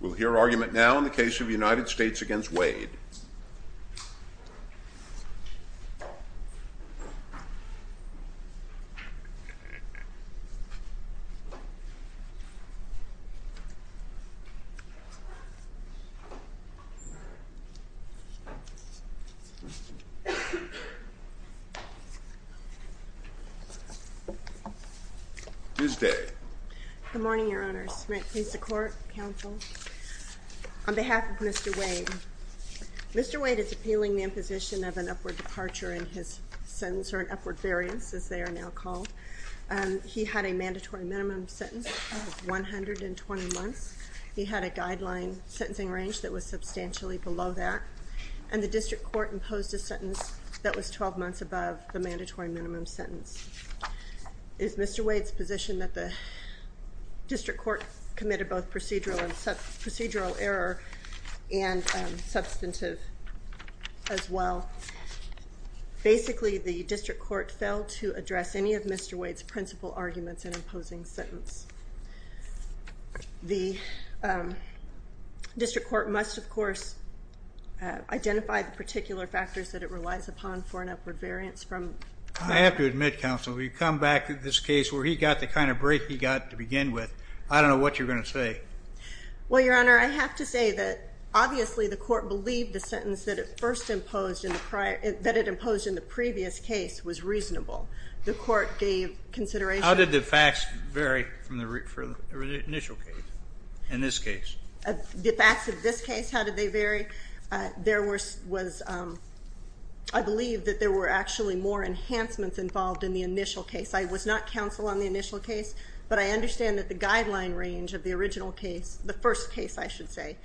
We'll hear argument now in the case of United States v. Wade. Tuesday Good morning, Your Honors. May it please the Court, Counsel. On behalf of Mr. Wade, Mr. Wade is appealing the imposition of an upward departure in his sentence, or an upward variance, as they are now called. He had a mandatory minimum sentence of 120 months. He had a guideline sentencing range that was substantially below that. And the District Court imposed a sentence that was 12 months above the mandatory minimum sentence. It is Mr. Wade's position that the District Court committed both procedural error and substantive as well. Basically, the District Court failed to address any of Mr. Wade's principal arguments in imposing the sentence. The District Court must, of course, identify the particular factors that it relies upon for an upward variance. I have to admit, Counsel, we've come back to this case where he got the kind of break he got to begin with. I don't know what you're going to say. Well, Your Honor, I have to say that obviously the Court believed the sentence that it first imposed in the prior, that it imposed in the previous case was reasonable. The Court gave consideration. How did the facts vary for the initial case, in this case? The facts of this case, how did they vary? There was, I believe that there were actually more enhancements involved in the initial case. I was not counsel on the initial case, but I understand that the guideline range of the original case, the first case, I should say,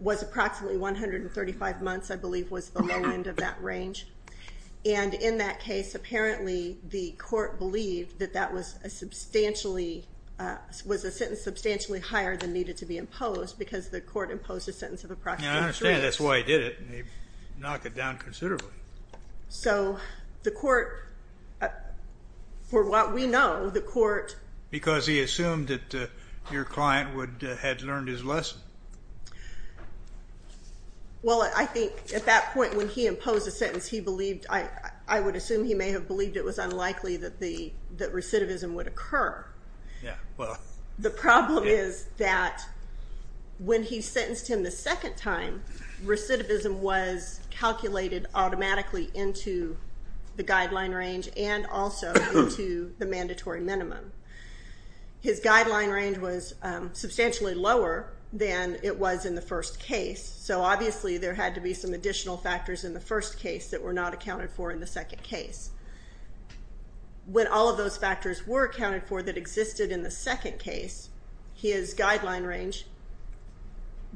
was approximately 135 months, I believe was the low end of that range. And in that case, apparently the Court believed that that was a substantially, was a sentence substantially higher than needed to be imposed because the Court imposed a sentence of approximately three months. I understand. That's why he did it. He knocked it down considerably. So the Court, for what we know, the Court... Because he assumed that your client had learned his lesson. Well, I think at that point when he imposed the sentence, he believed, I would assume he may have believed it was unlikely that recidivism would occur. Yeah, well... The problem is that when he sentenced him the second time, recidivism was calculated automatically into the guideline range and also into the mandatory minimum. His guideline range was substantially lower than it was in the first case. So obviously there had to be some additional factors in the first case that were not accounted for in the second case. When all of those factors were accounted for that existed in the second case, his guideline range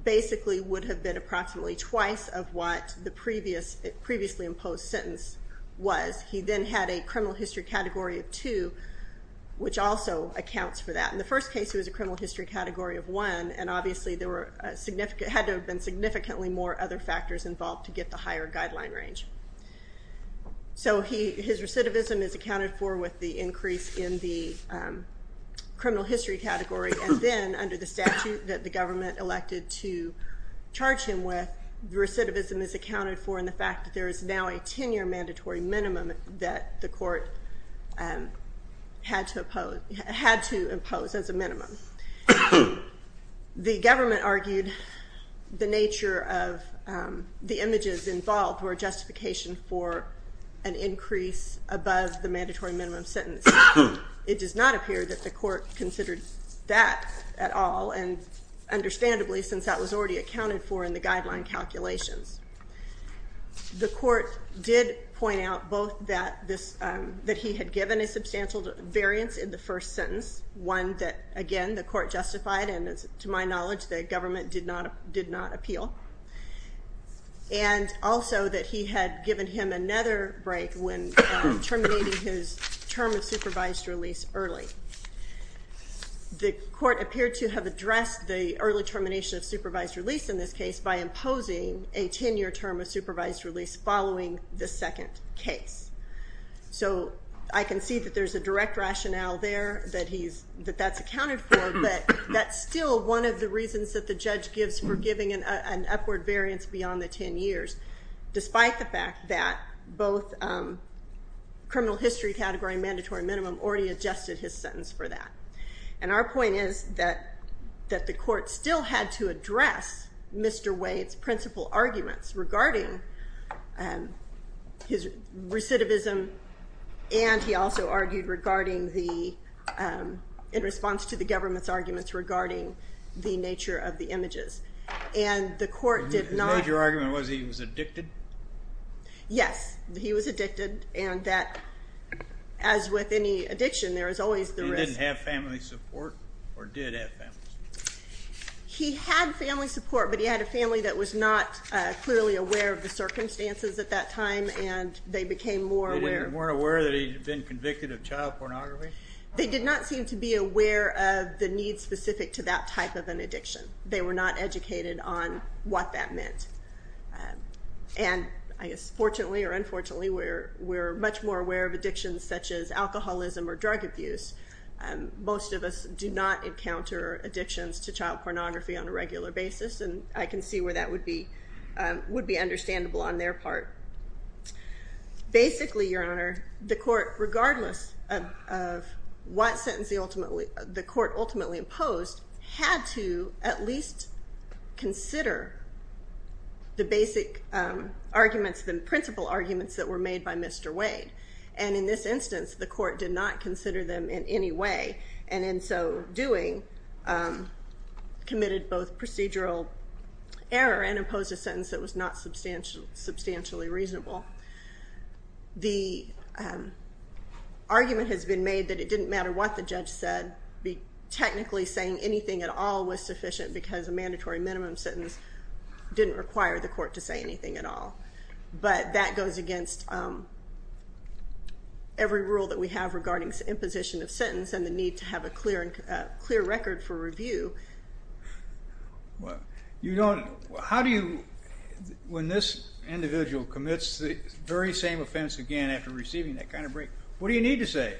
basically would have been approximately twice of what the previously imposed sentence was. He then had a criminal history category of two, which also accounts for that. In the first case, it was a criminal history category of one, and obviously there had to have been significantly more other factors involved to get the higher guideline range. So his recidivism is accounted for with the increase in the criminal history category, and then under the statute that the government elected to charge him with, recidivism is accounted for in the fact that there is now a 10-year mandatory minimum that the court had to impose as a minimum. The government argued the nature of the images involved were a justification for an increase above the mandatory minimum sentence. It does not appear that the court considered that at all, and understandably since that was already accounted for in the guideline calculations. The court did point out both that he had given a substantial variance in the first sentence, one that again the court justified and to my knowledge the government did not appeal, and also that he had given him another break when terminating his term of supervised release early. The court appeared to have addressed the early termination of supervised release in this case by imposing a 10-year term of supervised release following the second case. So I can see that there's a direct rationale there that that's accounted for, but that's still one of the reasons that the judge gives for giving an upward variance beyond the 10 years, despite the fact that both criminal history category and mandatory minimum already adjusted his sentence for that. And our point is that the court still had to address Mr. Wade's principal arguments regarding his recidivism, and he also argued in response to the government's arguments regarding the nature of the images. And the court did not... The major argument was he was addicted? Yes, he was addicted, and that as with any addiction there is always the risk... He didn't have family support or did have family support? He had family support, but he had a family that was not clearly aware of the circumstances at that time, and they became more aware... They weren't aware that he'd been convicted of child pornography? They did not seem to be aware of the needs specific to that type of an addiction. They were not educated on what that meant, and I guess fortunately or unfortunately, we're much more aware of addictions such as alcoholism or drug abuse. Most of us do not encounter addictions to child pornography on a regular basis, and I can see where that would be understandable on their part. Basically, Your Honor, the court, regardless of what sentence the court ultimately imposed, had to at least consider the basic arguments, the principal arguments that were made by Mr. Wade, and in this instance the court did not consider them in any way, and in so doing committed both procedural error and imposed a sentence that was not substantially reasonable. The argument has been made that it didn't matter what the judge said, technically saying anything at all was sufficient because a mandatory minimum sentence didn't require the court to say anything at all, but that goes against every rule that we have regarding imposition of sentence and the need to have a clear record for review. Well, you don't... How do you... When this individual commits the very same offense again after receiving that kind of break, what do you need to say?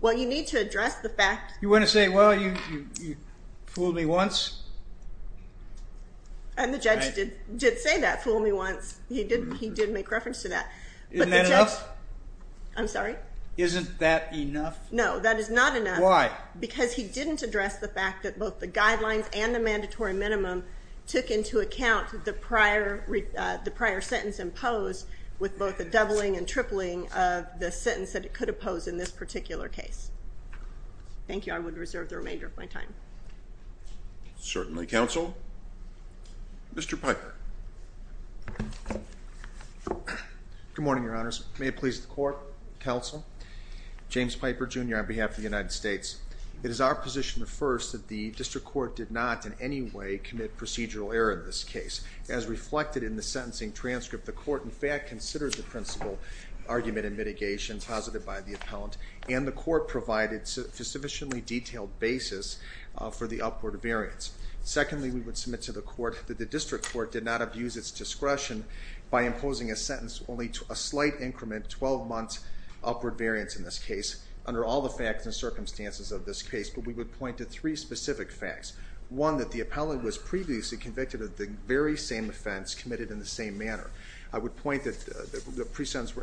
Well, you need to address the fact... You want to say, well, you fooled me once? And the judge did say that, fooled me once. He did make reference to that. Isn't that enough? I'm sorry? Isn't that enough? No, that is not enough. Why? Because he didn't address the fact that both the guidelines and the mandatory minimum took into account the prior sentence imposed with both the doubling and tripling of the sentence that it could oppose in this particular case. Thank you. I would reserve the remainder of my time. Certainly, counsel. Mr. Piper. Good morning, Your Honors. May it please the court, counsel. James Piper, Jr., on behalf of the United States. It is our position, first, that the district court did not in any way commit procedural error in this case. As reflected in the sentencing transcript, the court, in fact, considers the principal argument and mitigation posited by the appellant, and the court provided a sufficiently detailed basis for the upward variance. Secondly, we would submit to the court that the district court did not abuse its discretion by imposing a sentence only to a slight increment 12 months upward variance in this case under all the facts and circumstances of this case. But we would point to three specific facts. One, that the appellant was previously convicted of the very same offense committed in the same manner. I would point that the pre-sentence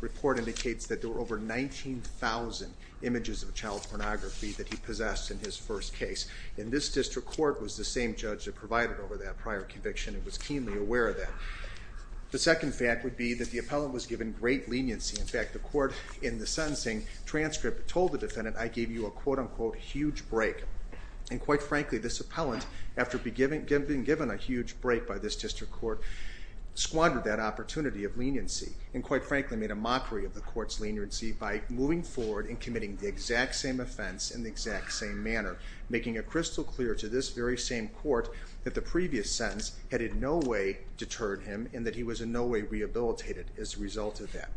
report indicates that there were over 19,000 images of child pornography that he possessed in his first case. And this district court was the same judge that provided over that prior conviction and was keenly aware of that. The second fact would be that the appellant was given great leniency. In fact, the court, in the sentencing transcript, told the defendant, I gave you a quote-unquote huge break. And quite frankly, this appellant, after being given a huge break by this district court, squandered that opportunity of leniency and quite frankly made a mockery of the court's leniency by moving forward and committing the exact same offense in the exact same manner, making it crystal clear to this very same court that the previous sentence had in no way deterred him and that he was in no way rehabilitated as a result of that.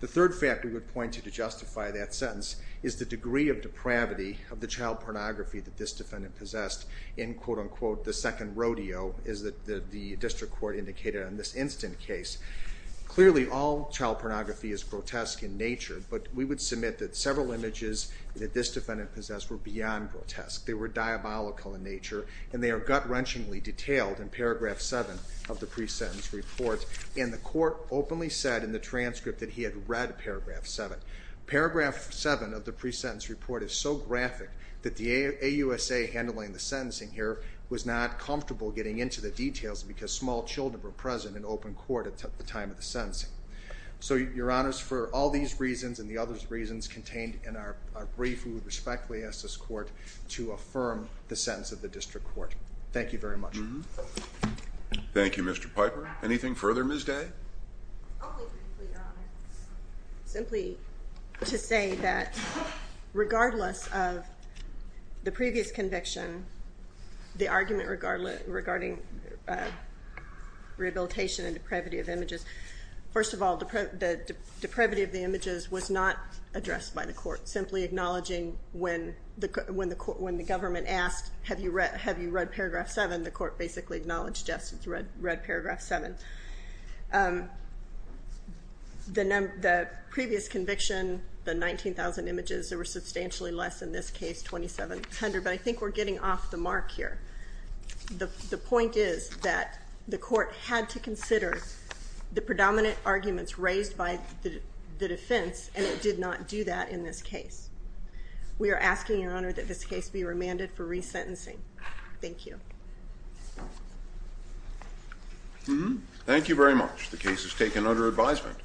The third fact we would point to to justify that sentence is the degree of depravity of the child pornography that this defendant possessed in quote-unquote the second rodeo, as the district court indicated in this instant case. But we would submit that several images that this defendant possessed were beyond grotesque. They were diabolical in nature and they are gut-wrenchingly detailed in paragraph 7 of the pre-sentence report. And the court openly said in the transcript that he had read paragraph 7. Paragraph 7 of the pre-sentence report is so graphic that the AUSA handling the sentencing here was not comfortable getting into the details because small children were present in open court at the time of the sentencing. So your honors, for all these reasons and the other reasons contained in our brief, we would respectfully ask this court to affirm the sentence of the district court. Thank you very much. Thank you Mr. Piper. Anything further Ms. Day? Simply to say that regardless of the previous conviction, the argument regarding rehabilitation and depravity of images, first of all the depravity of the images was not addressed by the court. Simply acknowledging when the government asked have you read paragraph 7, the court basically acknowledged yes, it's read paragraph 7. The previous conviction, the 19,000 images, there were substantially less in this case, 2,700, but I think we're getting off the mark here. The point is that the court had to consider the predominant arguments raised by the defense and it did not do that in this case. We are asking your honor that this case be remanded for resentencing. Thank you. Thank you very much. The case is taken under advisement.